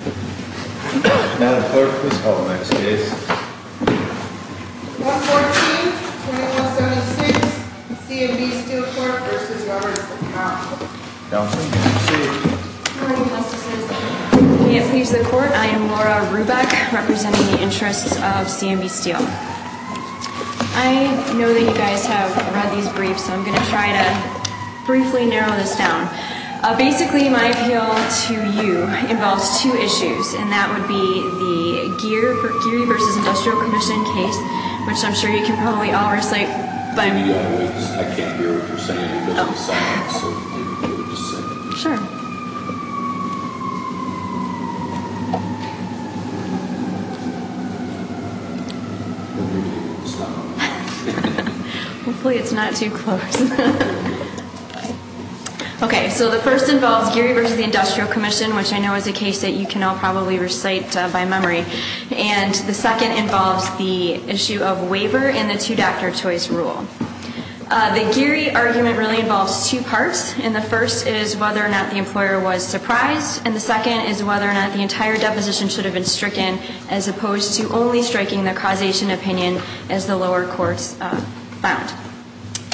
Madam Clerk, please call the next case. 114-2176, C&B Steel Corp. v. Workers' Comp'n Counsel, you may proceed. Good morning, Justices. I am Laura Ruback, representing the interests of C&B Steel. I know that you guys have read these briefs, so I'm going to try to briefly narrow this down. Basically, my appeal to you involves two issues, and that would be the Geary v. Industrial Commission case, which I'm sure you can probably all recite by me. Yeah, I can't hear what you're saying. Oh. So if you would just say it. Sure. Hopefully it's not too close. Okay, so the first involves Geary v. Industrial Commission, which I know is a case that you can all probably recite by memory. And the second involves the issue of waiver and the two-doctor choice rule. The Geary argument really involves two parts, and the first is whether or not the employer was surprised, and the second is whether or not the entire deposition should have been stricken, as opposed to only striking the causation opinion, as the lower courts found.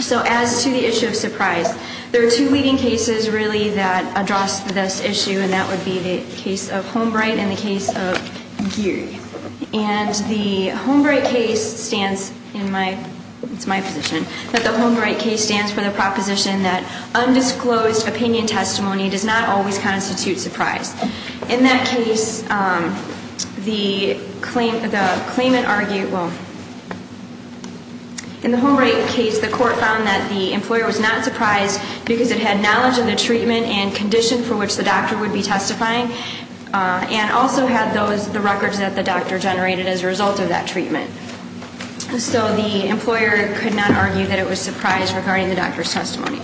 So as to the issue of surprise, there are two leading cases really that address this issue, and that would be the case of Holmbright and the case of Geary. And the Holmbright case stands in my position, but the Holmbright case stands for the proposition that undisclosed opinion testimony does not always constitute surprise. In that case, the claimant argued, well, in the Holmbright case the court found that the employer was not surprised because it had knowledge of the treatment and condition for which the doctor would be testifying and also had the records that the doctor generated as a result of that treatment. So the employer could not argue that it was surprise regarding the doctor's testimony,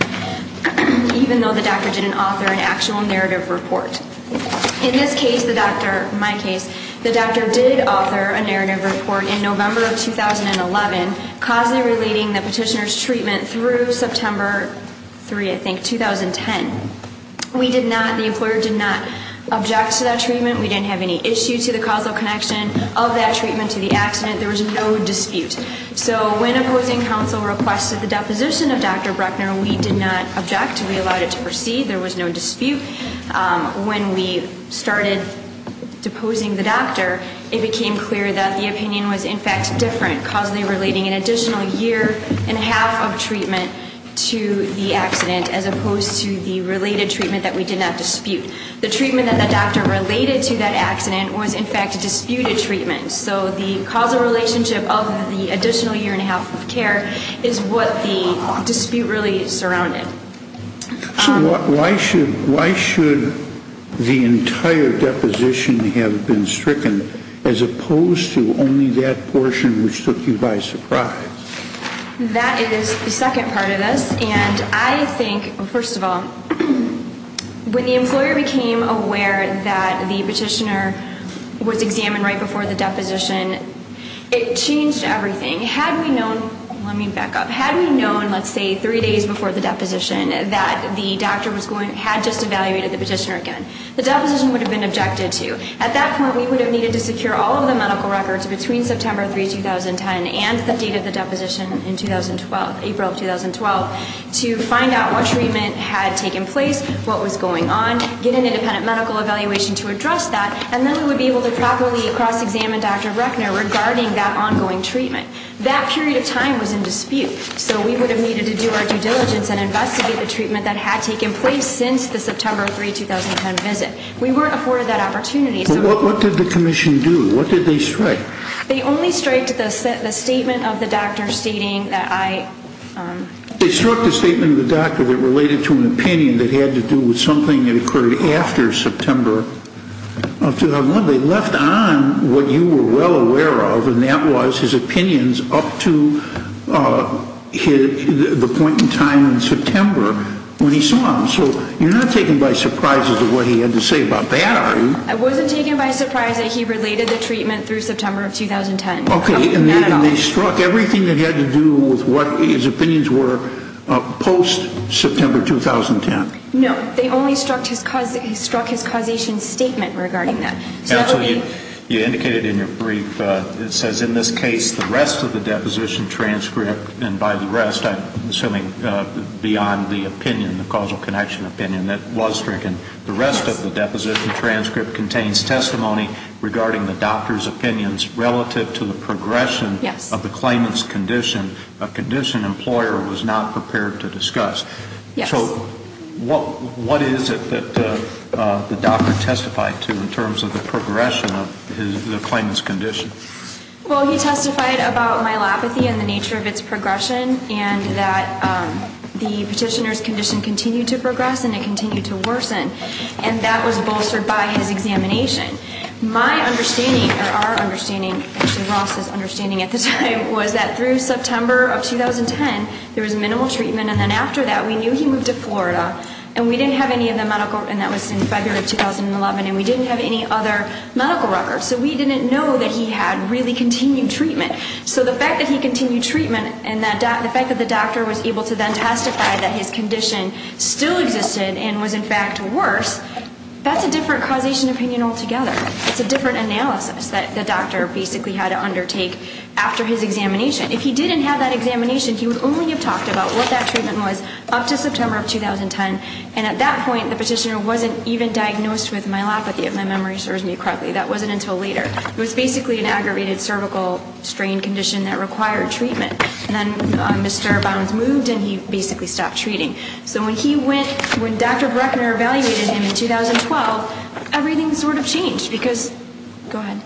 even though the doctor didn't author an actual narrative report. In this case, the doctor, my case, the doctor did author a narrative report in November of 2011 causally relating the petitioner's treatment through September 3, I think, 2010. We did not, the employer did not object to that treatment. We didn't have any issue to the causal connection of that treatment to the accident. There was no dispute. So when opposing counsel requested the deposition of Dr. Bruckner, we did not object. We allowed it to proceed. There was no dispute. When we started deposing the doctor, it became clear that the opinion was, in fact, different, causally relating an additional year and a half of treatment to the accident as opposed to the related treatment that we did not dispute. The treatment that the doctor related to that accident was, in fact, disputed treatment. So the causal relationship of the additional year and a half of care is what the dispute really surrounded. So why should the entire deposition have been stricken as opposed to only that portion which took you by surprise? That is the second part of this, and I think, first of all, when the employer became aware that the petitioner was examined right before the deposition, it changed everything. Had we known, let me back up, had we known, let's say, three days before the deposition, that the doctor had just evaluated the petitioner again, the deposition would have been objected to. At that point, we would have needed to secure all of the medical records between September 3, 2010, and the date of the deposition in 2012, April of 2012, to find out what treatment had taken place, what was going on, get an independent medical evaluation to address that, and then we would be able to properly cross-examine Dr. Reckner regarding that ongoing treatment. That period of time was in dispute, so we would have needed to do our due diligence and investigate the treatment that had taken place since the September 3, 2010 visit. We weren't afforded that opportunity. But what did the Commission do? What did they strike? They only striked the statement of the doctor stating that I... They struck the statement of the doctor that related to an opinion that had to do with something that occurred after September of 2001. They left on what you were well aware of, and that was his opinions up to the point in time in September when he saw them. So you're not taken by surprise as to what he had to say about that, are you? I wasn't taken by surprise that he related the treatment through September of 2010. Okay, and they struck everything that had to do with what his opinions were post-September 2010. No, they only struck his causation statement regarding that. Counsel, you indicated in your brief, it says, in this case, the rest of the deposition transcript, and by the rest, I'm assuming beyond the opinion, the causal connection opinion that was stricken, the rest of the deposition transcript contains testimony regarding the doctor's opinions relative to the progression of the claimant's condition, a condition employer was not prepared to discuss. So what is it that the doctor testified to in terms of the progression of the claimant's condition? Well, he testified about myelopathy and the nature of its progression, and that the petitioner's condition continued to progress and it continued to worsen, and that was bolstered by his examination. My understanding, or our understanding, actually Ross's understanding at the time, was that through September of 2010 there was minimal treatment, and then after that we knew he moved to Florida, and we didn't have any of the medical records, and that was in February of 2011, and we didn't have any other medical records, so we didn't know that he had really continued treatment. So the fact that he continued treatment and the fact that the doctor was able to then testify that his condition still existed and was in fact worse, that's a different causation opinion altogether. It's a different analysis that the doctor basically had to undertake after his examination. If he didn't have that examination, he would only have talked about what that treatment was up to September of 2010, and at that point the petitioner wasn't even diagnosed with myelopathy, if my memory serves me correctly. That wasn't until later. It was basically an aggravated cervical strain condition that required treatment, and then Mr. Bottoms moved and he basically stopped treating. So when he went, when Dr. Breckner evaluated him in 2012, everything sort of changed because, go ahead.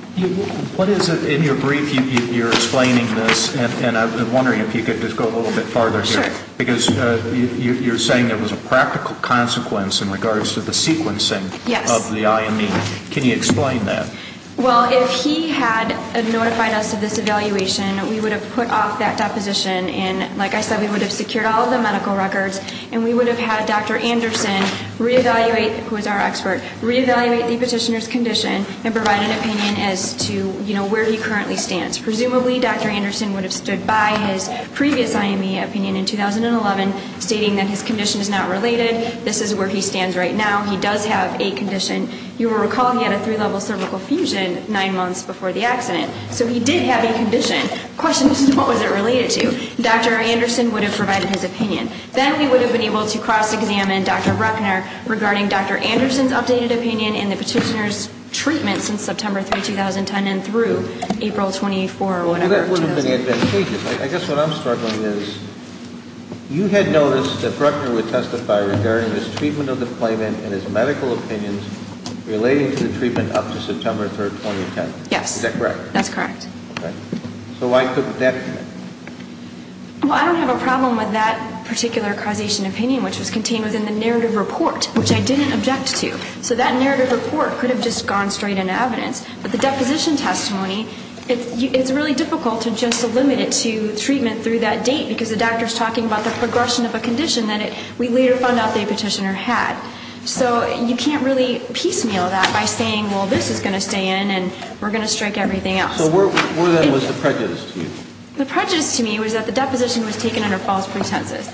What is it, in your brief you're explaining this, and I'm wondering if you could just go a little bit farther here. Sure. Because you're saying it was a practical consequence in regards to the sequencing of the IME. Can you explain that? Well, if he had notified us of this evaluation, we would have put off that deposition, and like I said, we would have secured all of the medical records, and we would have had Dr. Anderson re-evaluate, who is our expert, re-evaluate the petitioner's condition and provide an opinion as to, you know, where he currently stands. Presumably Dr. Anderson would have stood by his previous IME opinion in 2011, stating that his condition is not related, this is where he stands right now, he does have a condition. You will recall he had a three-level cervical fusion nine months before the accident. So he did have a condition. The question is, what was it related to? Dr. Anderson would have provided his opinion. Then we would have been able to cross-examine Dr. Breckner regarding Dr. Anderson's updated opinion in the petitioner's treatment since September 3, 2010 and through April 24 or whatever. Well, that would have been advantageous. I guess what I'm struggling is, you had noticed that Breckner would testify regarding his treatment of the claimant and his medical opinions relating to the treatment up to September 3, 2010. Yes. Is that correct? That's correct. Okay. So I took that opinion. Well, I don't have a problem with that particular causation opinion, which was contained within the narrative report, which I didn't object to. So that narrative report could have just gone straight into evidence. But the deposition testimony, it's really difficult to just limit it to treatment through that date because the doctor is talking about the progression of a condition that we later found out the petitioner had. So you can't really piecemeal that by saying, well, this is going to stay in and we're going to strike everything else. So what then was the prejudice to you? The prejudice to me was that the deposition was taken under false pretenses.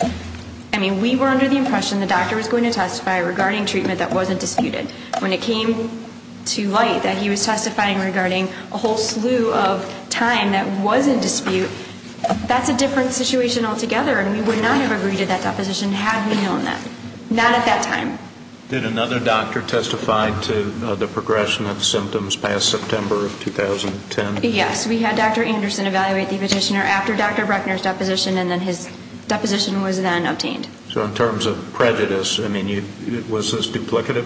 I mean, we were under the impression the doctor was going to testify regarding treatment that wasn't disputed. When it came to light that he was testifying regarding a whole slew of time that was in dispute, that's a different situation altogether, and we would not have agreed to that deposition had we known that. Not at that time. Did another doctor testify to the progression of symptoms past September of 2010? Yes. We had Dr. Anderson evaluate the petitioner after Dr. Brechner's deposition, and then his deposition was then obtained. So in terms of prejudice, I mean, was this duplicative?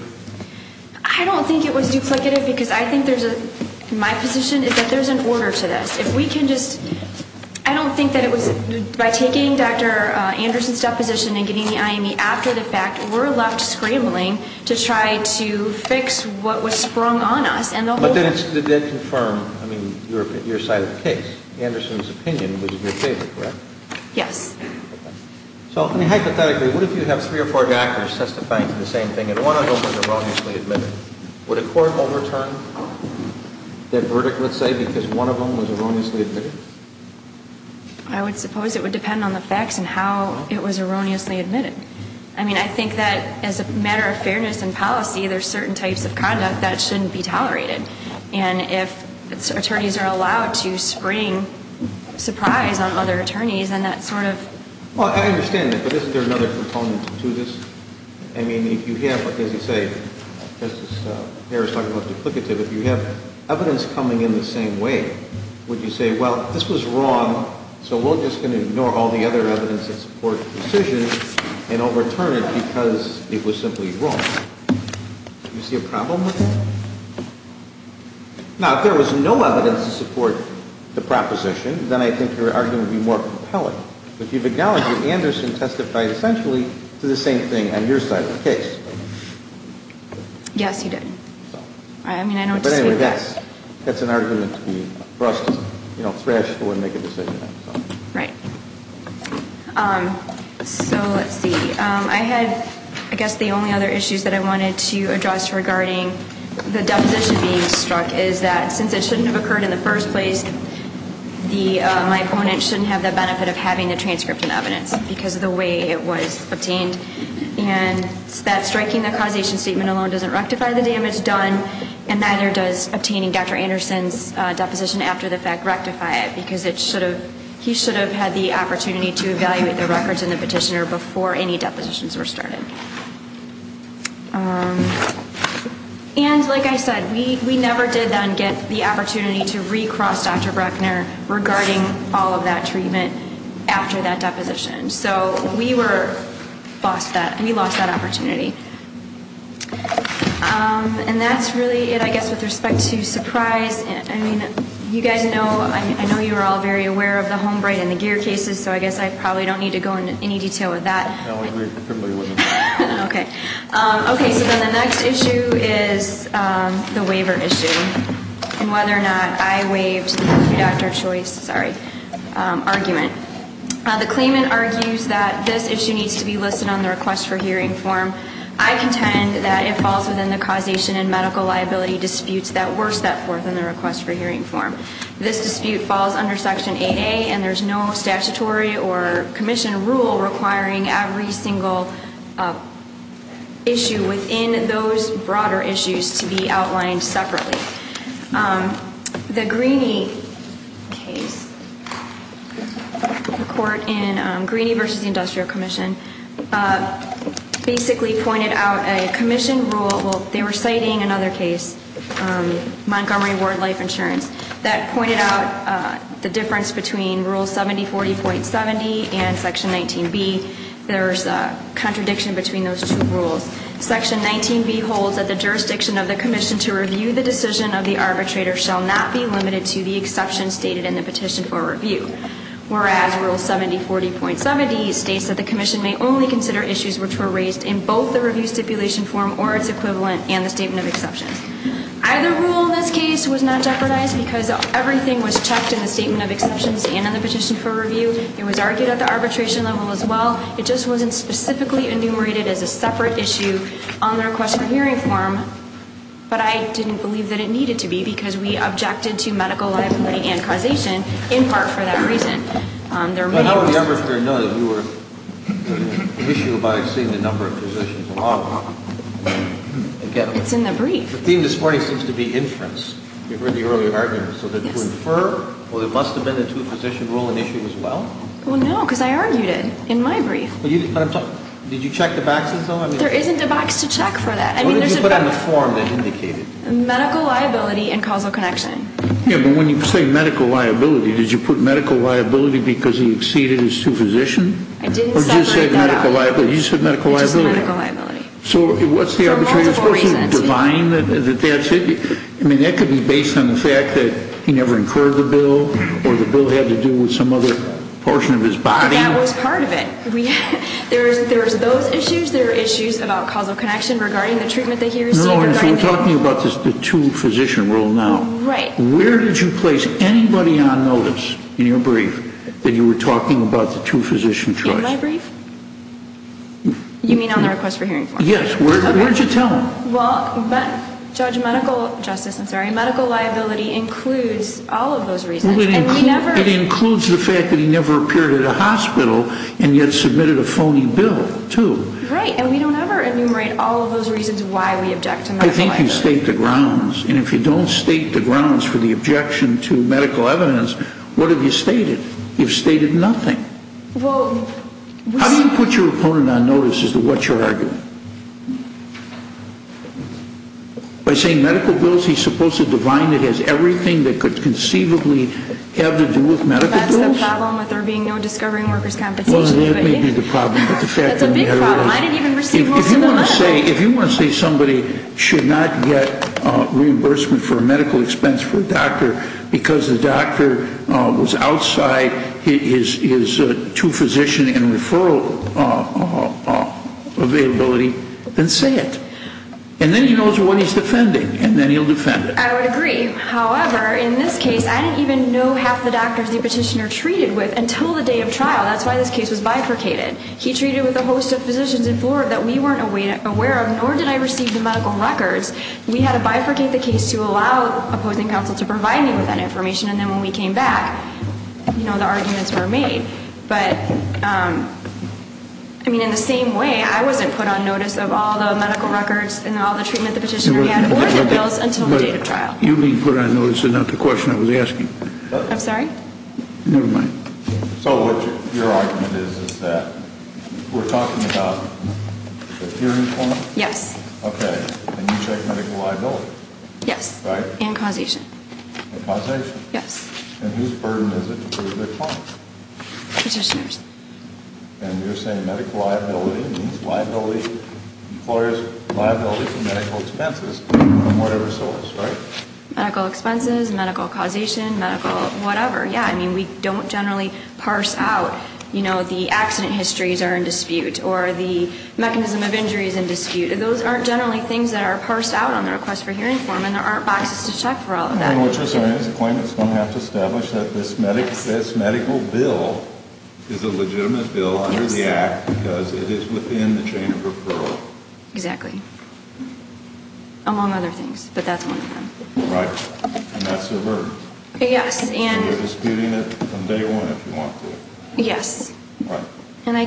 I don't think it was duplicative because I think there's a ñ my position is that there's an order to this. If we can just ñ I don't think that it was ñ by taking Dr. Anderson's deposition and getting the IME after the fact, we're left scrambling to try to fix what was sprung on us. But then it did confirm, I mean, your side of the case. Anderson's opinion was your favorite, correct? Yes. So hypothetically, what if you have three or four doctors testifying to the same thing and one of them was erroneously admitted? Would a court overturn that verdict, let's say, because one of them was erroneously admitted? I would suppose it would depend on the facts and how it was erroneously admitted. I mean, I think that as a matter of fairness in policy, there's certain types of conduct that shouldn't be tolerated. And if attorneys are allowed to spring surprise on other attorneys, then that sort of ñ Well, I understand that, but isn't there another component to this? I mean, if you have, as you say, Justice Harris talked about duplicative, if you have evidence coming in the same way, would you say, well, this was wrong, so we're just going to ignore all the other evidence that supports the decision and overturn it because it was simply wrong? Do you see a problem with that? Now, if there was no evidence to support the proposition, then I think your argument would be more compelling. But you've acknowledged that Anderson testified essentially to the same thing on your side of the case. Yes, he did. I mean, I don't dispute that. But anyway, that's an argument to be brushed, you know, thrashful and make a decision on. Right. So let's see. I had, I guess, the only other issues that I wanted to address regarding the deposition being struck is that since it shouldn't have occurred in the first place, my opponent shouldn't have the benefit of having the transcript and evidence because of the way it was obtained. And that striking the causation statement alone doesn't rectify the damage done, and neither does obtaining Dr. Anderson's deposition after the fact rectify it, because he should have had the opportunity to evaluate the records in the petitioner before any depositions were started. And like I said, we never did then get the opportunity to recross Dr. Breckner regarding all of that treatment after that deposition. So we were, we lost that opportunity. And that's really it, I guess, with respect to Surprise. I mean, you guys know, I know you are all very aware of the Holmbright and the Geer cases, so I guess I probably don't need to go into any detail with that. Okay. Okay, so then the next issue is the waiver issue and whether or not I waived the pre-doctor choice, sorry, argument. The claimant argues that this issue needs to be listed on the request for hearing form. I contend that it falls within the causation and medical liability disputes that were set forth in the request for hearing form. This dispute falls under Section 8A, and there's no statutory or commission rule requiring every single issue within those broader issues to be outlined separately. The Greeney case, the court in Greeney v. Industrial Commission, basically pointed out a commission rule, they were citing another case, Montgomery Ward Life Insurance, that pointed out the difference between Rule 7040.70 and Section 19B. There's a contradiction between those two rules. Section 19B holds that the jurisdiction of the commission to review the decision of the arbitrator shall not be limited to the exception stated in the petition for review. Whereas Rule 7040.70 states that the commission may only consider issues which were raised in both the review stipulation form or its equivalent and the statement of exceptions. Either rule in this case was not jeopardized because everything was checked in the statement of exceptions and in the petition for review. It was argued at the arbitration level as well. It just wasn't specifically enumerated as a separate issue on the request for hearing form. But I didn't believe that it needed to be because we objected to medical liability and causation in part for that reason. There may have been... But how would the arbitrator know that you were an issue by seeing the number of positions along? It's in the brief. The theme this morning seems to be inference. You've heard the earlier argument. So to infer, well, there must have been a two-position rule an issue as well? Well, no, because I argued it in my brief. Did you check the backs and so on? There isn't a box to check for that. What did you put on the form that indicated? Medical liability and causal connection. Yeah, but when you say medical liability, did you put medical liability because he exceeded his two-position? I didn't separate that out. Or did you say medical liability? You said medical liability. It's just medical liability. So what's the arbitration? For multiple reasons. I mean, that could be based on the fact that he never incurred the bill or the bill had to do with some other portion of his body. That was part of it. There was those issues. There were issues about causal connection regarding the treatment that he received. No, no, if you're talking about the two-physician rule now. Right. Where did you place anybody on notice in your brief that you were talking about the two-physician choice? In my brief? You mean on the request for hearing form? Yes. Where did you tell him? Well, Judge Medical Justice, I'm sorry, medical liability includes all of those reasons. It includes the fact that he never appeared at a hospital and yet submitted a phony bill, too. Right. And we don't ever enumerate all of those reasons why we object to medical liability. I think you state the grounds. And if you don't state the grounds for the objection to medical evidence, what have you stated? You've stated nothing. By saying medical bills, he's supposed to define it as everything that could conceivably have to do with medical bills? That's the problem with there being no discovering workers' compensation. Well, that may be the problem. That's a big problem. I didn't even receive most of the money. If you want to say somebody should not get reimbursement for a medical expense for a doctor because the doctor was outside his two-physician and referral availability, then say it. And then he knows what he's defending, and then he'll defend it. I would agree. However, in this case, I didn't even know half the doctors the petitioner treated with until the day of trial. That's why this case was bifurcated. He treated with a host of physicians in Florida that we weren't aware of, nor did I receive the medical records. We had to bifurcate the case to allow opposing counsel to provide me with that information. And then when we came back, you know, the arguments were made. But, I mean, in the same way, I wasn't put on notice of all the medical records and all the treatment the petitioner had, more than bills, until the date of trial. You being put on notice is not the question I was asking. I'm sorry? Never mind. So what your argument is is that we're talking about the hearing point? Yes. Okay. And you take medical liability? Yes. Right? And causation. And causation? Yes. And whose burden is it to prove their claim? Petitioner's. And you're saying medical liability means liability, employer's liability for medical expenses on whatever source, right? Medical expenses, medical causation, medical whatever, yeah. I mean, we don't generally parse out, you know, the accident histories are in dispute or the mechanism of injury is in dispute. Those aren't generally things that are parsed out on the request for hearing form, and there aren't boxes to check for all of that. And what you're saying is the claimant's going to have to establish that this medical bill is a legitimate bill under the act because it is within the chain of referral. Exactly. Among other things, but that's one of them. Right. And that's their burden. Yes. And you're disputing it from day one if you want to. Yes. Right. And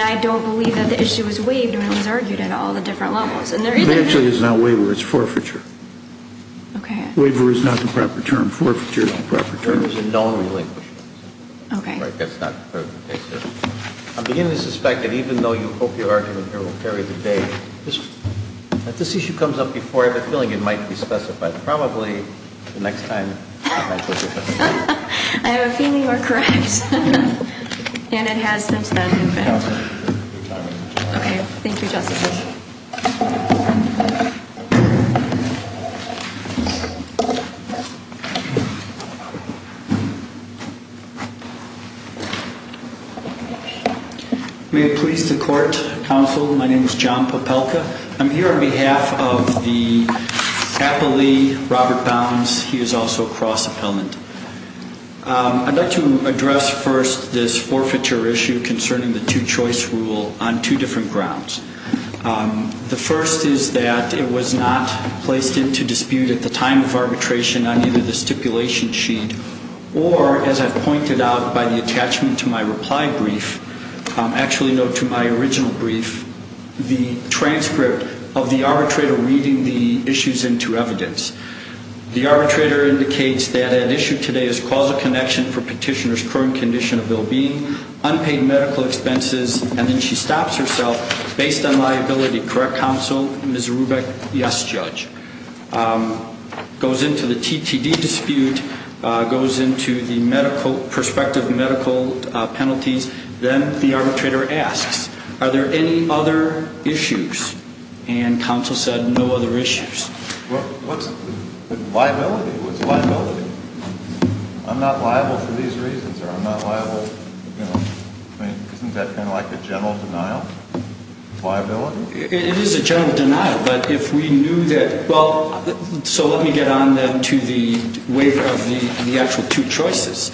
I don't believe that the issue was waived when it was argued at all the different levels. It actually is not waiver, it's forfeiture. Okay. Waiver is not the proper term. Forfeiture is the proper term. There is a known relinquishment. Okay. That's not the case here. I'm beginning to suspect that even though you hope your argument here will carry the day, if this issue comes up before, I have a feeling it might be specified. Probably the next time. I have a feeling you are correct. And it has since then. Okay. Thank you, Justice. Thank you, Justice. May it please the court, counsel, my name is John Popelka. I'm here on behalf of the Applee, Robert Bounds. He is also a cross appellant. I'd like to address first this forfeiture issue concerning the two-choice rule on two different grounds. The first is that it was not placed into dispute at the time of arbitration on either the stipulation sheet or, as I've pointed out by the attachment to my reply brief, actually no, to my original brief, the transcript of the arbitrator reading the issues into evidence. The arbitrator indicates that at issue today is causal connection for petitioner's current condition of well-being, unpaid medical expenses, and then she stops herself based on liability. Correct, counsel? Ms. Rubick? Yes, judge. Goes into the TTD dispute, goes into the medical, prospective medical penalties. Then the arbitrator asks, are there any other issues? And counsel said no other issues. Well, what's the liability? What's the liability? I'm not liable for these reasons or I'm not liable, you know, isn't that kind of like a general denial of liability? It is a general denial, but if we knew that, well, so let me get on then to the waiver of the actual two choices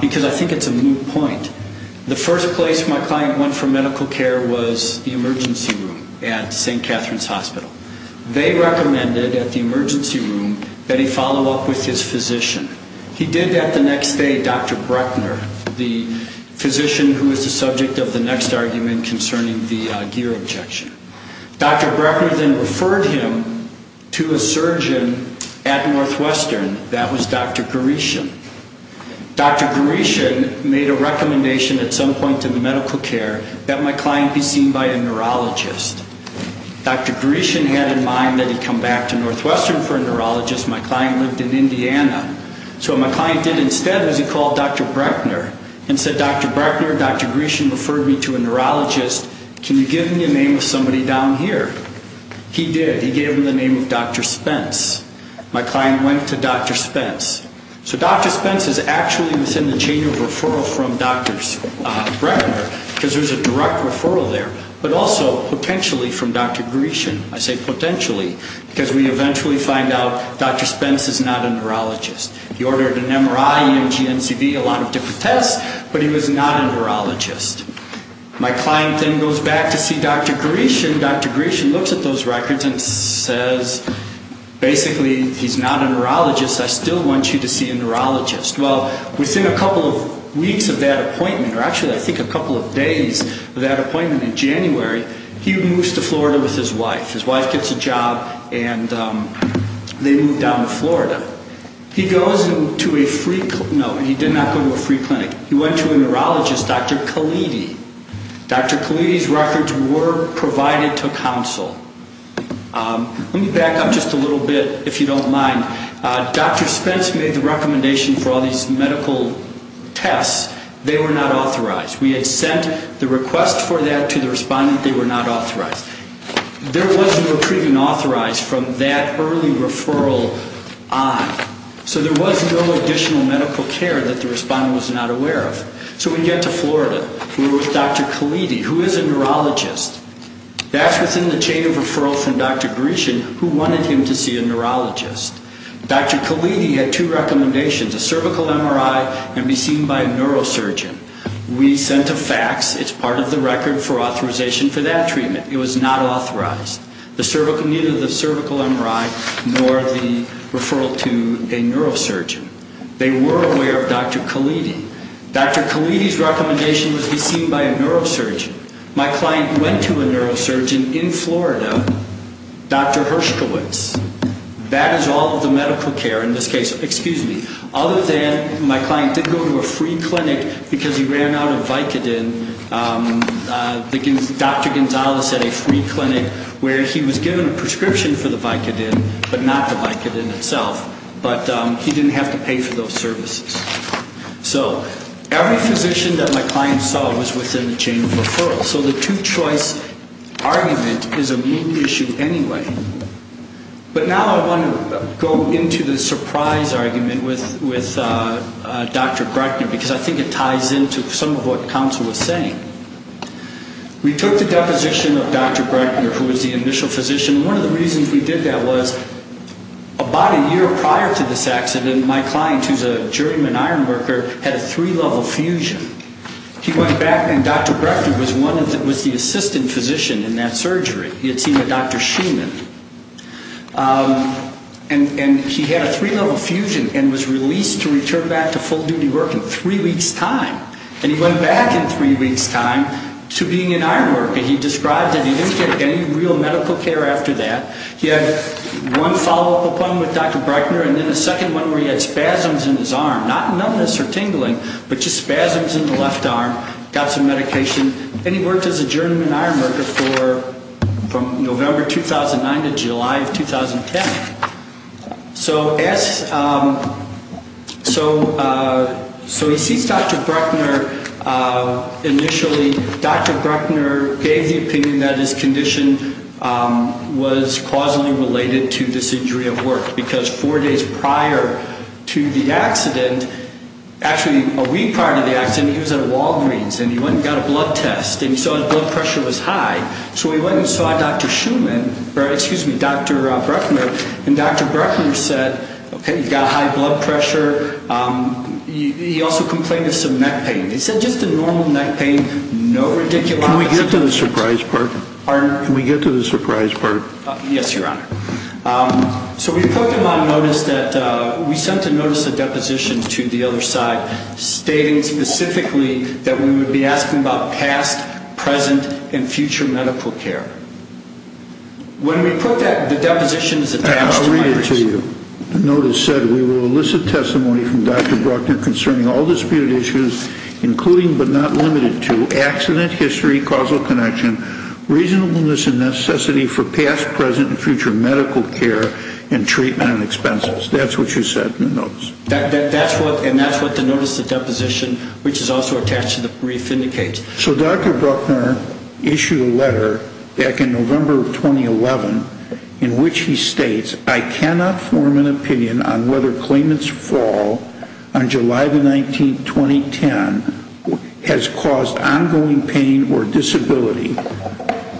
because I think it's a moot point. The first place my client went for medical care was the emergency room at St. Catherine's Hospital. They recommended at the emergency room that he follow up with his physician. He did that the next day, Dr. Brechner, the physician who was the subject of the next argument concerning the gear objection. Dr. Brechner then referred him to a surgeon at Northwestern. That was Dr. Gaurishan. Dr. Gaurishan made a recommendation at some point in the medical care that my client be seen by a neurologist. Dr. Gaurishan had in mind that he come back to Northwestern for a neurologist. My client lived in Indiana. So what my client did instead was he called Dr. Brechner and said, Dr. Brechner, Dr. Gaurishan referred me to a neurologist. Can you give me a name of somebody down here? He did. He gave him the name of Dr. Spence. My client went to Dr. Spence. So Dr. Spence is actually within the chain of referral from Dr. Brechner because there's a direct referral there, but also potentially from Dr. Gaurishan. I say potentially because we eventually find out Dr. Spence is not a neurologist. He ordered an MRI and a GNCV, a lot of different tests, but he was not a neurologist. My client then goes back to see Dr. Gaurishan. Dr. Gaurishan looks at those records and says, basically, he's not a neurologist. I still want you to see a neurologist. Well, within a couple of weeks of that appointment, or actually I think a couple of days of that appointment in January, he moves to Florida with his wife. His wife gets a job, and they move down to Florida. He goes to a free clinic. No, he did not go to a free clinic. He went to a neurologist, Dr. Khalidi. Dr. Khalidi's records were provided to counsel. Let me back up just a little bit, if you don't mind. Dr. Spence made the recommendation for all these medical tests. They were not authorized. We had sent the request for that to the respondent. They were not authorized. There was no treatment authorized from that early referral on. So there was no additional medical care that the respondent was not aware of. So we get to Florida. We're with Dr. Khalidi, who is a neurologist. That's within the chain of referral from Dr. Gaurishan, who wanted him to see a neurologist. Dr. Khalidi had two recommendations, a cervical MRI and be seen by a neurosurgeon. We sent a fax. It's part of the record for authorization for that treatment. It was not authorized. Neither the cervical MRI nor the referral to a neurosurgeon. They were aware of Dr. Khalidi. Dr. Khalidi's recommendation was to be seen by a neurosurgeon. My client went to a neurosurgeon in Florida, Dr. Hershkowitz. That is all of the medical care in this case, other than my client didn't go to a free clinic because he ran out of Vicodin. Dr. Gonzalez had a free clinic where he was given a prescription for the Vicodin, but not the Vicodin itself. But he didn't have to pay for those services. So every physician that my client saw was within the chain of referral. So the two-choice argument is a main issue anyway. But now I want to go into the surprise argument with Dr. Breckner, because I think it ties into some of what counsel was saying. We took the deposition of Dr. Breckner, who was the initial physician. One of the reasons we did that was about a year prior to this accident, my client, who's a juryman ironworker, had a three-level fusion. He went back, and Dr. Breckner was the assistant physician in that surgery. He had seen a Dr. Sheiman. And he had a three-level fusion and was released to return back to full-duty work in three weeks' time. And he went back in three weeks' time to being an ironworker. He described that he didn't get any real medical care after that. He had one follow-up appointment with Dr. Breckner, and then a second one where he had spasms in his arm. Not numbness or tingling, but just spasms in the left arm. Got some medication, and he worked as a juryman ironworker from November 2009 to July of 2010. So he sees Dr. Breckner initially. Dr. Breckner gave the opinion that his condition was causally related to this injury at work. Because four days prior to the accident, actually a week prior to the accident, he was at a Walgreens. And he went and got a blood test. And he saw his blood pressure was high. So he went and saw Dr. Sheiman, or excuse me, Dr. Breckner. And Dr. Breckner said, okay, you've got high blood pressure. He also complained of some neck pain. He said just a normal neck pain, no radiculitis. Can we get to the surprise part? Pardon? Can we get to the surprise part? Yes, Your Honor. So we put him on notice that, we sent a notice of deposition to the other side, stating specifically that we would be asking about past, present, and future medical care. When we put that, the deposition is attached to my notice. I'll read it to you. The notice said, we will elicit testimony from Dr. Breckner concerning all disputed issues, including but not limited to accident history, causal connection, reasonableness, and necessity for past, present, and future medical care and treatment and expenses. That's what you said in the notice. And that's what the notice of deposition, which is also attached to the brief, indicates. So Dr. Breckner issued a letter back in November of 2011 in which he states, I cannot form an opinion on whether claimant's fall on July the 19th, 2010, has caused ongoing pain or disability,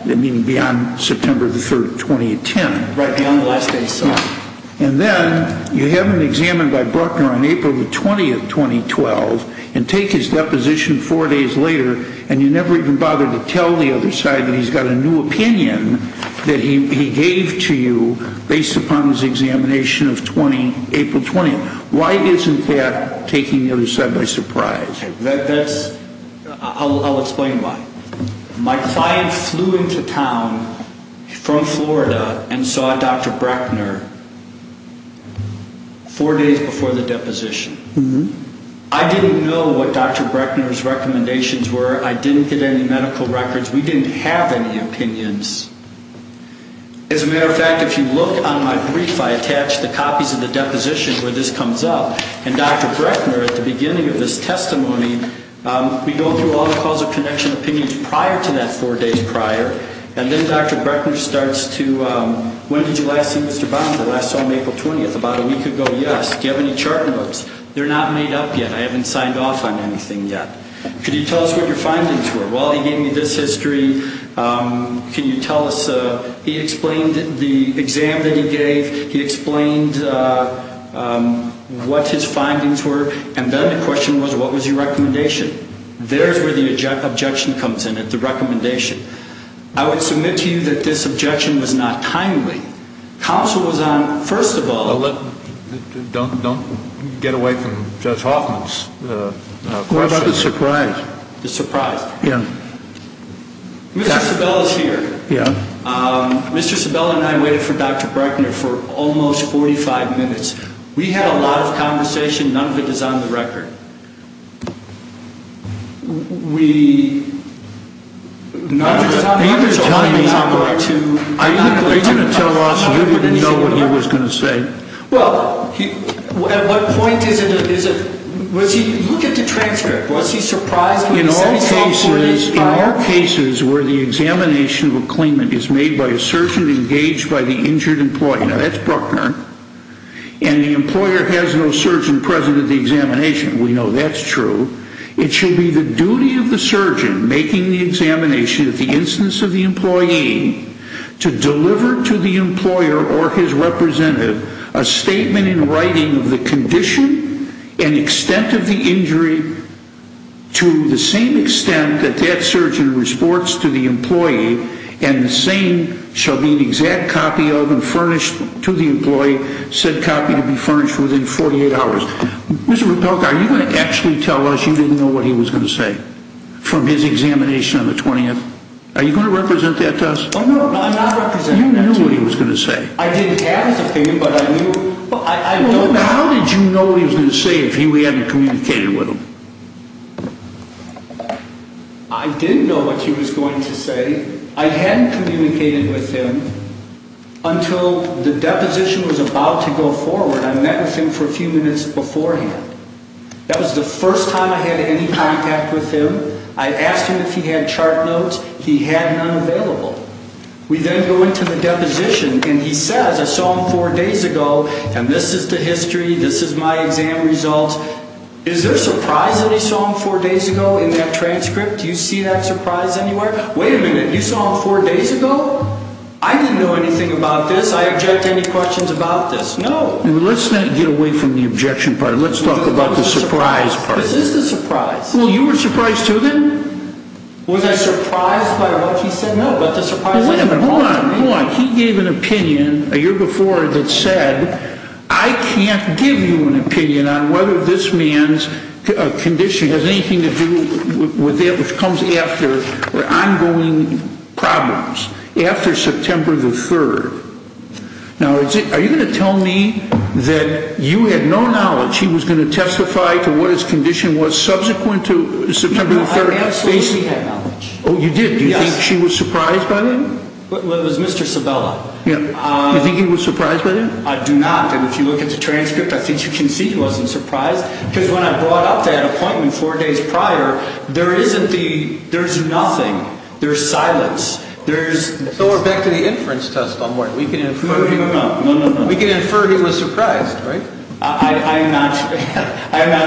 meaning beyond September the 3rd, 2010. Right, beyond the last day he saw her. And then you have him examined by Breckner on April the 20th, 2012, and take his deposition four days later, and you never even bothered to tell the other side that he's got a new opinion that he gave to you based upon his examination of April 20th. Why isn't that taking the other side by surprise? I'll explain why. My client flew into town from Florida and saw Dr. Breckner four days before the deposition. I didn't know what Dr. Breckner's recommendations were. I didn't get any medical records. We didn't have any opinions. As a matter of fact, if you look on my brief, I attached the copies of the deposition where this comes up, and Dr. Breckner at the beginning of his testimony, we go through all the causal connection opinions prior to that four days prior, and then Dr. Breckner starts to, when did you last see Mr. Bonds? I last saw him April 20th, about a week ago, yes. Do you have any charting books? They're not made up yet. I haven't signed off on anything yet. Could you tell us what your findings were? Well, he gave me this history. Can you tell us? He explained the exam that he gave. He explained what his findings were. And then the question was, what was your recommendation? There's where the objection comes in, at the recommendation. I would submit to you that this objection was not timely. Counsel was on, first of all, Don't get away from Judge Hoffman's question. What about the surprise? The surprise? Yeah. Mr. Sabella's here. Yeah. Mr. Sabella and I waited for Dr. Breckner for almost 45 minutes. We had a lot of conversation. None of it is on the record. None of it is on the record. Are you going to tell us you didn't know what he was going to say? Well, at what point is it? Look at the transcript. Was he surprised when he said he saw 48 files? In all cases where the examination of a claimant is made by a surgeon engaged by the injured employee, now that's Breckner, and the employer has no surgeon present at the examination, we know that's true, it should be the duty of the surgeon making the examination of the instance of the employee to deliver to the employer or his representative a statement in writing of the condition and extent of the injury to the same extent that that surgeon reports to the employee and the same shall be an exact copy of and furnished to the employee, said copy to be furnished within 48 hours. Mr. Rapelka, are you going to actually tell us you didn't know what he was going to say from his examination on the 20th? Are you going to represent that to us? No, I'm not representing that to you. You knew what he was going to say. I didn't have his opinion, but I knew. How did you know what he was going to say if he hadn't communicated with him? I didn't know what he was going to say. I hadn't communicated with him until the deposition was about to go forward. I met with him for a few minutes beforehand. That was the first time I had any contact with him. I asked him if he had chart notes. He had none available. We then go into the deposition, and he says, I saw him four days ago, and this is the history, this is my exam results. Is there a surprise that he saw him four days ago in that transcript? Do you see that surprise anywhere? Wait a minute. You saw him four days ago? I didn't know anything about this. I object to any questions about this. No. Let's not get away from the objection part. Let's talk about the surprise part. This is the surprise. Well, you were surprised, too, then? Was I surprised by what he said? No, but the surprise was important. Hold on, hold on. He gave an opinion a year before that said, I can't give you an opinion on whether this man's condition has anything to do with that which comes after ongoing problems, after September the 3rd. Now, are you going to tell me that you had no knowledge he was going to testify to what his condition was subsequent to September the 3rd? No, I absolutely had knowledge. Oh, you did? Yes. Do you think he was surprised by that? It was Mr. Sabella. Do you think he was surprised by that? I do not. And if you look at the transcript, I think you can see he wasn't surprised because when I brought up that appointment four days prior, there's nothing. There's silence. So we're back to the inference test, I'm worried. We can infer he was surprised, right? I'm not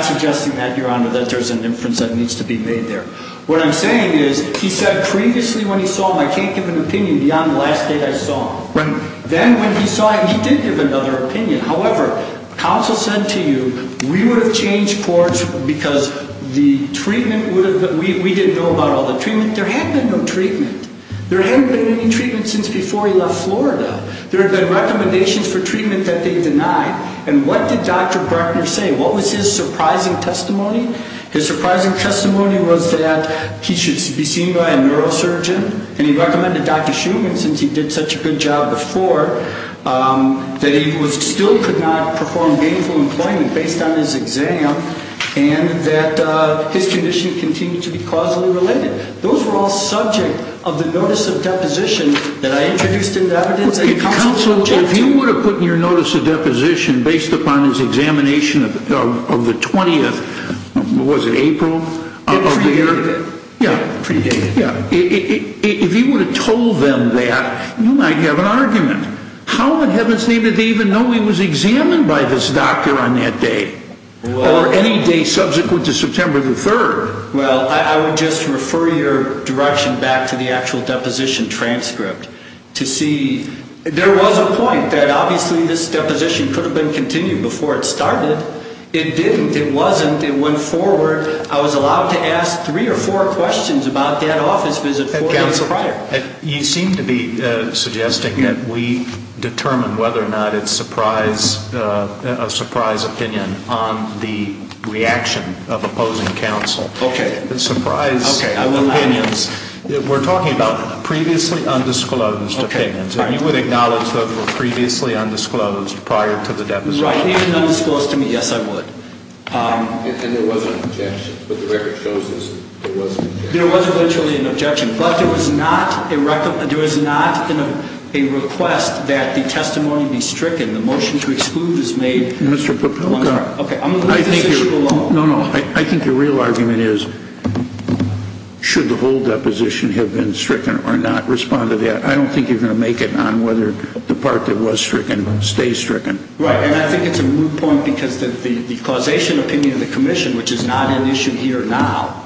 suggesting that, Your Honor, that there's an inference that needs to be made there. What I'm saying is he said previously when he saw him, I can't give an opinion beyond the last date I saw him. Right. Then when he saw him, he did give another opinion. However, counsel said to you, we would have changed courts because the treatment would have been, we didn't know about all the treatment. There had been no treatment. There hadn't been any treatment since before he left Florida. There had been recommendations for treatment that they denied. And what did Dr. Gartner say? What was his surprising testimony? His surprising testimony was that he should be seen by a neurosurgeon, and he recommended Dr. Schumann since he did such a good job before, that he still could not perform gainful employment based on his exam, and that his condition continued to be causally related. Those were all subject of the notice of deposition that I introduced into evidence. Counsel, if you would have put in your notice of deposition based upon his examination of the 20th, was it April of the year? Yeah. Yeah. If you would have told them that, you might have an argument. How in heaven's name did they even know he was examined by this doctor on that day or any day subsequent to September the 3rd? Well, I would just refer your direction back to the actual deposition transcript to see. There was a point that obviously this deposition could have been continued before it started. It didn't. It wasn't. It went forward. I was allowed to ask three or four questions about that office visit four days prior. You seem to be suggesting that we determine whether or not it's a surprise opinion on the reaction of opposing counsel. Okay. Surprise opinions. Okay. We're talking about previously undisclosed opinions. Okay. And you would acknowledge those were previously undisclosed prior to the deposition? Right. Even undisclosed to me, yes, I would. And there wasn't an objection, but the record shows there was an objection. There wasn't literally an objection, but there was not a request that the testimony be stricken. The motion to exclude is made. Mr. Papilka. Okay. I'm going to leave this issue alone. No, no. I think the real argument is should the whole deposition have been stricken or not responded yet. I don't think you're going to make it on whether the part that was stricken stays stricken. Right. And I think it's a moot point because the causation opinion of the commission, which is not an issue here now,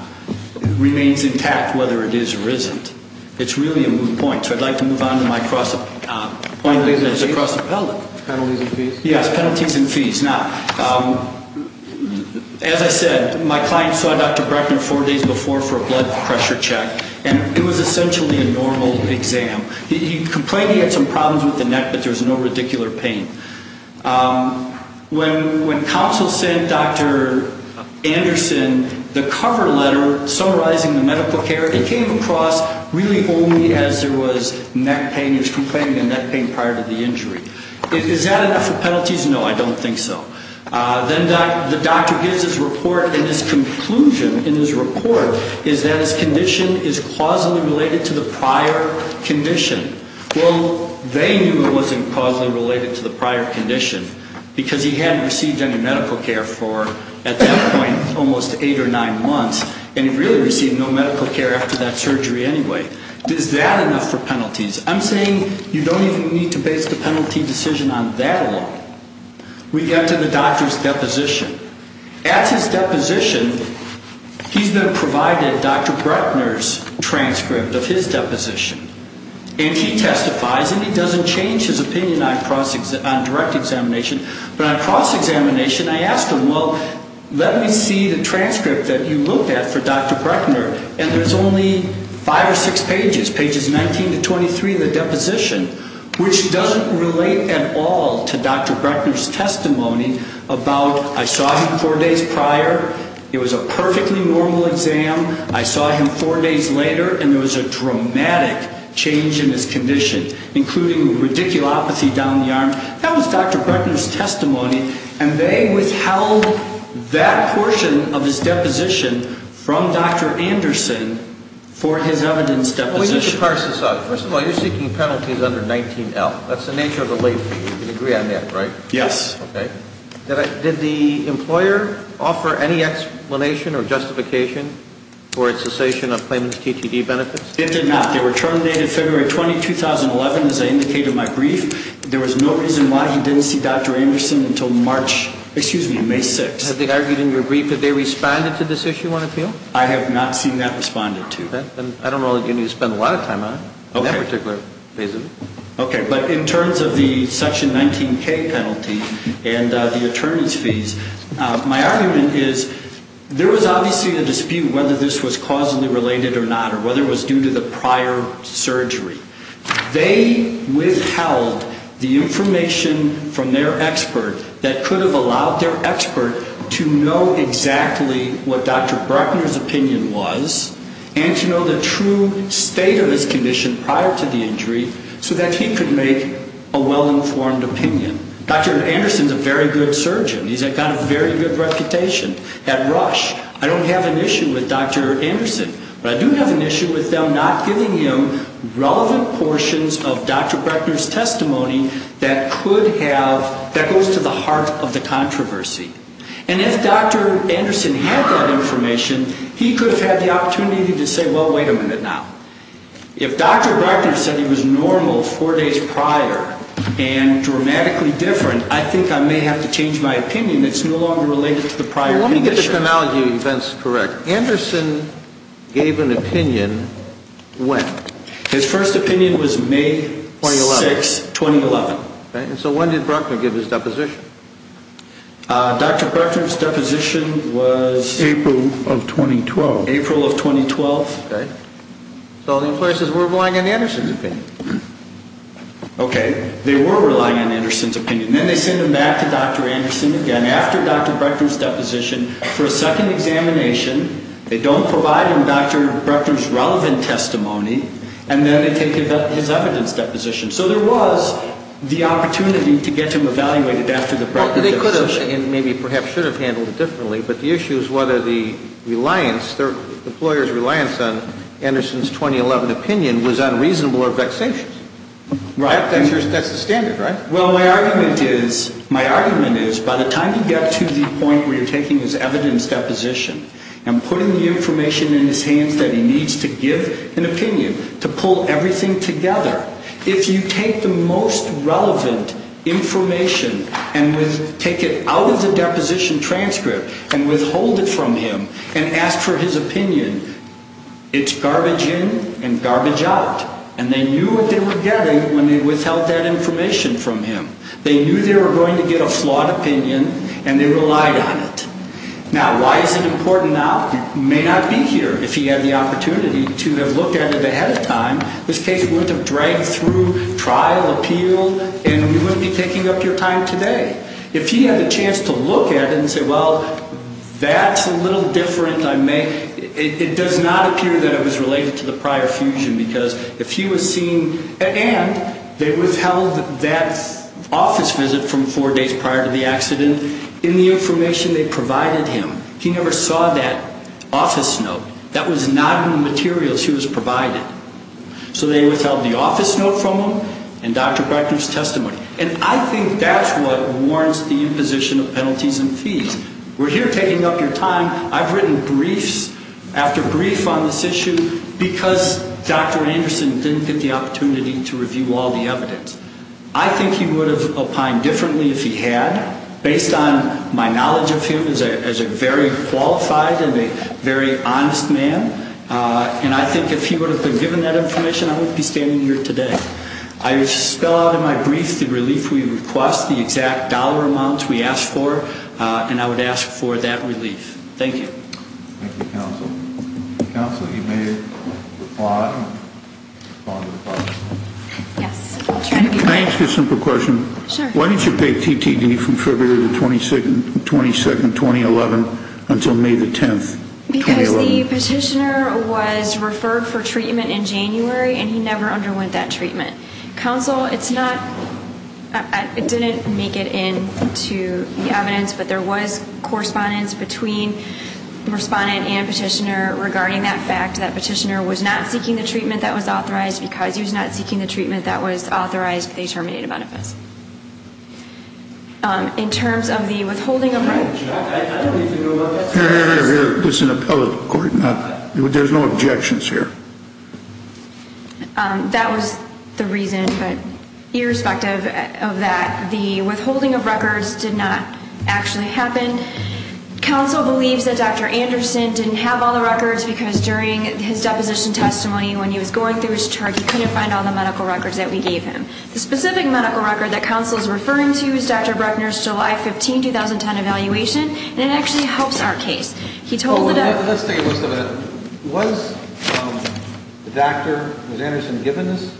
remains intact whether it is or isn't. It's really a moot point. So I'd like to move on to my cross-appellate. Penalties and fees. Yes, penalties and fees. Now, as I said, my client saw Dr. Breckner four days before for a blood pressure check, and it was essentially a normal exam. He complained he had some problems with the neck, but there was no radicular pain. When counsel sent Dr. Anderson the cover letter summarizing the medical care, it came across really only as there was neck pain. He was complaining of neck pain prior to the injury. Is that enough for penalties? No, I don't think so. Then the doctor gives his report, and his conclusion in his report is that his condition is causally related to the prior condition. Well, they knew it wasn't causally related to the prior condition because he hadn't received any medical care for, at that point, almost eight or nine months. And he'd really received no medical care after that surgery anyway. Is that enough for penalties? I'm saying you don't even need to base the penalty decision on that alone. We get to the doctor's deposition. At his deposition, he's been provided Dr. Breckner's transcript of his deposition. And he testifies, and he doesn't change his opinion on direct examination. But on cross-examination, I asked him, well, let me see the transcript that you looked at for Dr. Breckner. And there's only five or six pages, pages 19 to 23 of the deposition, which doesn't relate at all to Dr. Breckner's testimony about, I saw him four days prior. It was a perfectly normal exam. I saw him four days later, and there was a dramatic change in his condition, including a radiculopathy down the arm. That was Dr. Breckner's testimony. And they withheld that portion of his deposition from Dr. Anderson for his evidence deposition. We need to parse this out. First of all, you're seeking penalties under 19L. That's the nature of the late fee. You can agree on that, right? Yes. Okay. Did the employer offer any explanation or justification for its cessation of claimant's TTD benefits? It did not. They were terminated February 20, 2011, as I indicated in my brief. There was no reason why he didn't see Dr. Anderson until March, excuse me, May 6. Have they argued in your brief that they responded to this issue on appeal? I have not seen that responded to. Then I don't know that you need to spend a lot of time on it in that particular phase of it. Okay. But in terms of the section 19K penalty and the attorney's fees, my argument is there was obviously a dispute whether this was causally related or not, or whether it was due to the prior surgery. They withheld the information from their expert that could have allowed their expert to know exactly what Dr. Bruckner's opinion was and to know the true state of his condition prior to the injury so that he could make a well-informed opinion. Dr. Anderson is a very good surgeon. He's got a very good reputation. At Rush, I don't have an issue with Dr. Anderson. But I do have an issue with them not giving him relevant portions of Dr. Bruckner's testimony that could have, that goes to the heart of the controversy. And if Dr. Anderson had that information, he could have had the opportunity to say, well, wait a minute now. If Dr. Bruckner said he was normal four days prior and dramatically different, I think I may have to change my opinion. It's no longer related to the prior condition. Let me get the tonality of events correct. Anderson gave an opinion when? His first opinion was May 6, 2011. And so when did Bruckner give his deposition? Dr. Bruckner's deposition was April of 2012. April of 2012. So the influences were relying on Anderson's opinion. Okay. They were relying on Anderson's opinion. Then they send him back to Dr. Anderson again after Dr. Bruckner's deposition for a second examination. They don't provide him Dr. Bruckner's relevant testimony. And then they take his evidence deposition. So there was the opportunity to get him evaluated after the Bruckner deposition. Well, they could have and maybe perhaps should have handled it differently. But the issue is whether the reliance, the employer's reliance on Anderson's 2011 opinion was unreasonable or vexatious. Right. That's the standard, right? Well, my argument is by the time you get to the point where you're taking his evidence deposition and putting the information in his hands that he needs to give an opinion, to pull everything together, if you take the most relevant information and take it out of the deposition transcript and withhold it from him and ask for his opinion, it's garbage in and garbage out. And they knew what they were getting when they withheld that information from him. They knew they were going to get a flawed opinion and they relied on it. Now, why is it important now? He may not be here if he had the opportunity to have looked at it ahead of time. This case wouldn't have dragged through trial, appealed, and we wouldn't be taking up your time today. If he had a chance to look at it and say, well, that's a little different. It does not appear that it was related to the prior fusion because if he was seen and they withheld that office visit from four days prior to the accident, in the information they provided him, he never saw that office note. That was not in the materials he was provided. So they withheld the office note from him and Dr. Brechner's testimony. And I think that's what warrants the imposition of penalties and fees. We're here taking up your time. I've written briefs after brief on this issue because Dr. Anderson didn't get the opportunity to review all the evidence. I think he would have opined differently if he had, based on my knowledge of him as a very qualified and a very honest man. And I think if he would have been given that information, I wouldn't be standing here today. I spell out in my brief the relief we request, the exact dollar amount we ask for, and I would ask for that relief. Thank you. Thank you, Counsel. Counsel, you may reply. Yes. Can I ask you a simple question? Sure. Because the petitioner was referred for treatment in January, and he never underwent that treatment. Counsel, it's not – it didn't make it into the evidence, but there was correspondence between the respondent and petitioner regarding that fact that petitioner was not seeking the treatment that was authorized because he was not seeking the treatment that was authorized with a terminated benefit. In terms of the withholding of – Here, here, here. This is an appellate court. There's no objections here. That was the reason, but irrespective of that, the withholding of records did not actually happen. Counsel believes that Dr. Anderson didn't have all the records because during his deposition testimony, when he was going through his chart, he couldn't find all the medical records that we gave him. The specific medical record that Counsel is referring to is Dr. Bruckner's July 15, 2010, evaluation, and it actually helps our case. He told – Let's take a look at it. Was the doctor – was Anderson given his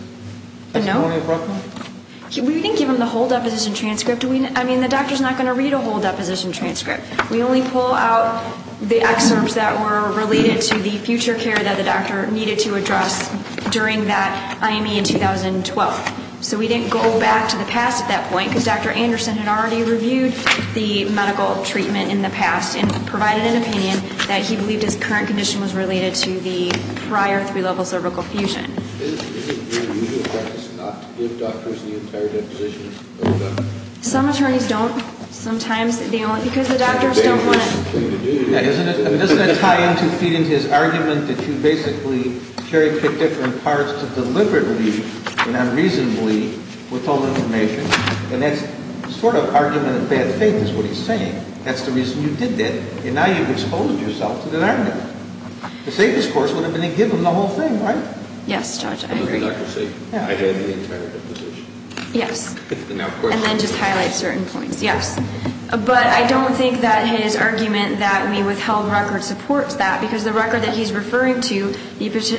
testimony appropriately? No. We didn't give him the whole deposition transcript. I mean, the doctor's not going to read a whole deposition transcript. We only pull out the excerpts that were related to the future care that the doctor needed to address during that IME in 2012. So we didn't go back to the past at that point because Dr. Anderson had already reviewed the medical treatment in the past and provided an opinion that he believed his current condition was related to the prior three-level cervical fusion. Is it your usual practice not to give doctors the entire deposition? Some attorneys don't. Sometimes they only – because the doctors don't want to – Doesn't that tie into feeding his argument that you basically cherry-picked different parts to deliberately and unreasonably withhold information? And that's sort of argument of bad faith is what he's saying. That's the reason you did that. And now you've exposed yourself to that argument. The safest course would have been to give him the whole thing, right? Yes, Judge, I agree. I had the entire deposition. Yes. And then just highlight certain points. Yes. But I don't think that his argument that we withheld records supports that because the record that he's referring to, he notes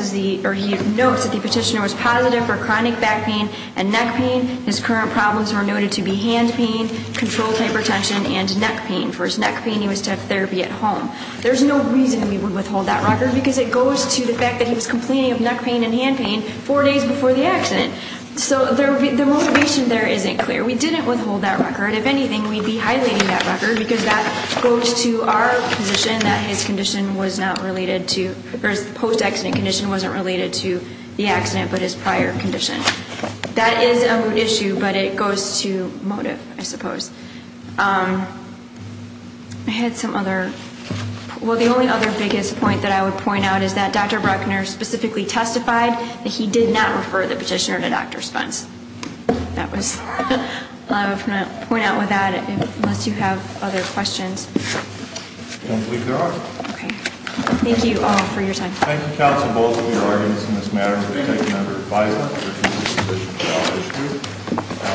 that the petitioner was positive for chronic back pain and neck pain. His current problems were noted to be hand pain, controlled hypertension, and neck pain. For his neck pain, he was to have therapy at home. There's no reason we would withhold that record because it goes to the fact that he was complaining of neck pain and hand pain four days before the accident. So the motivation there isn't clear. We didn't withhold that record. If anything, we'd be highlighting that record because that goes to our position that his condition was not related to, or his post-accident condition wasn't related to the accident but his prior condition. That is a moot issue, but it goes to motive, I suppose. I had some other, well, the only other biggest point that I would point out is that Dr. Bruckner specifically testified that he did not refer the petitioner to Dr. Spence. That was all I was going to point out with that unless you have other questions. I don't believe there are. Okay. Thank you all for your time. Thank you, counsel, both of your arguments in this matter. Thank you. We'll take it under advisement. Thank you.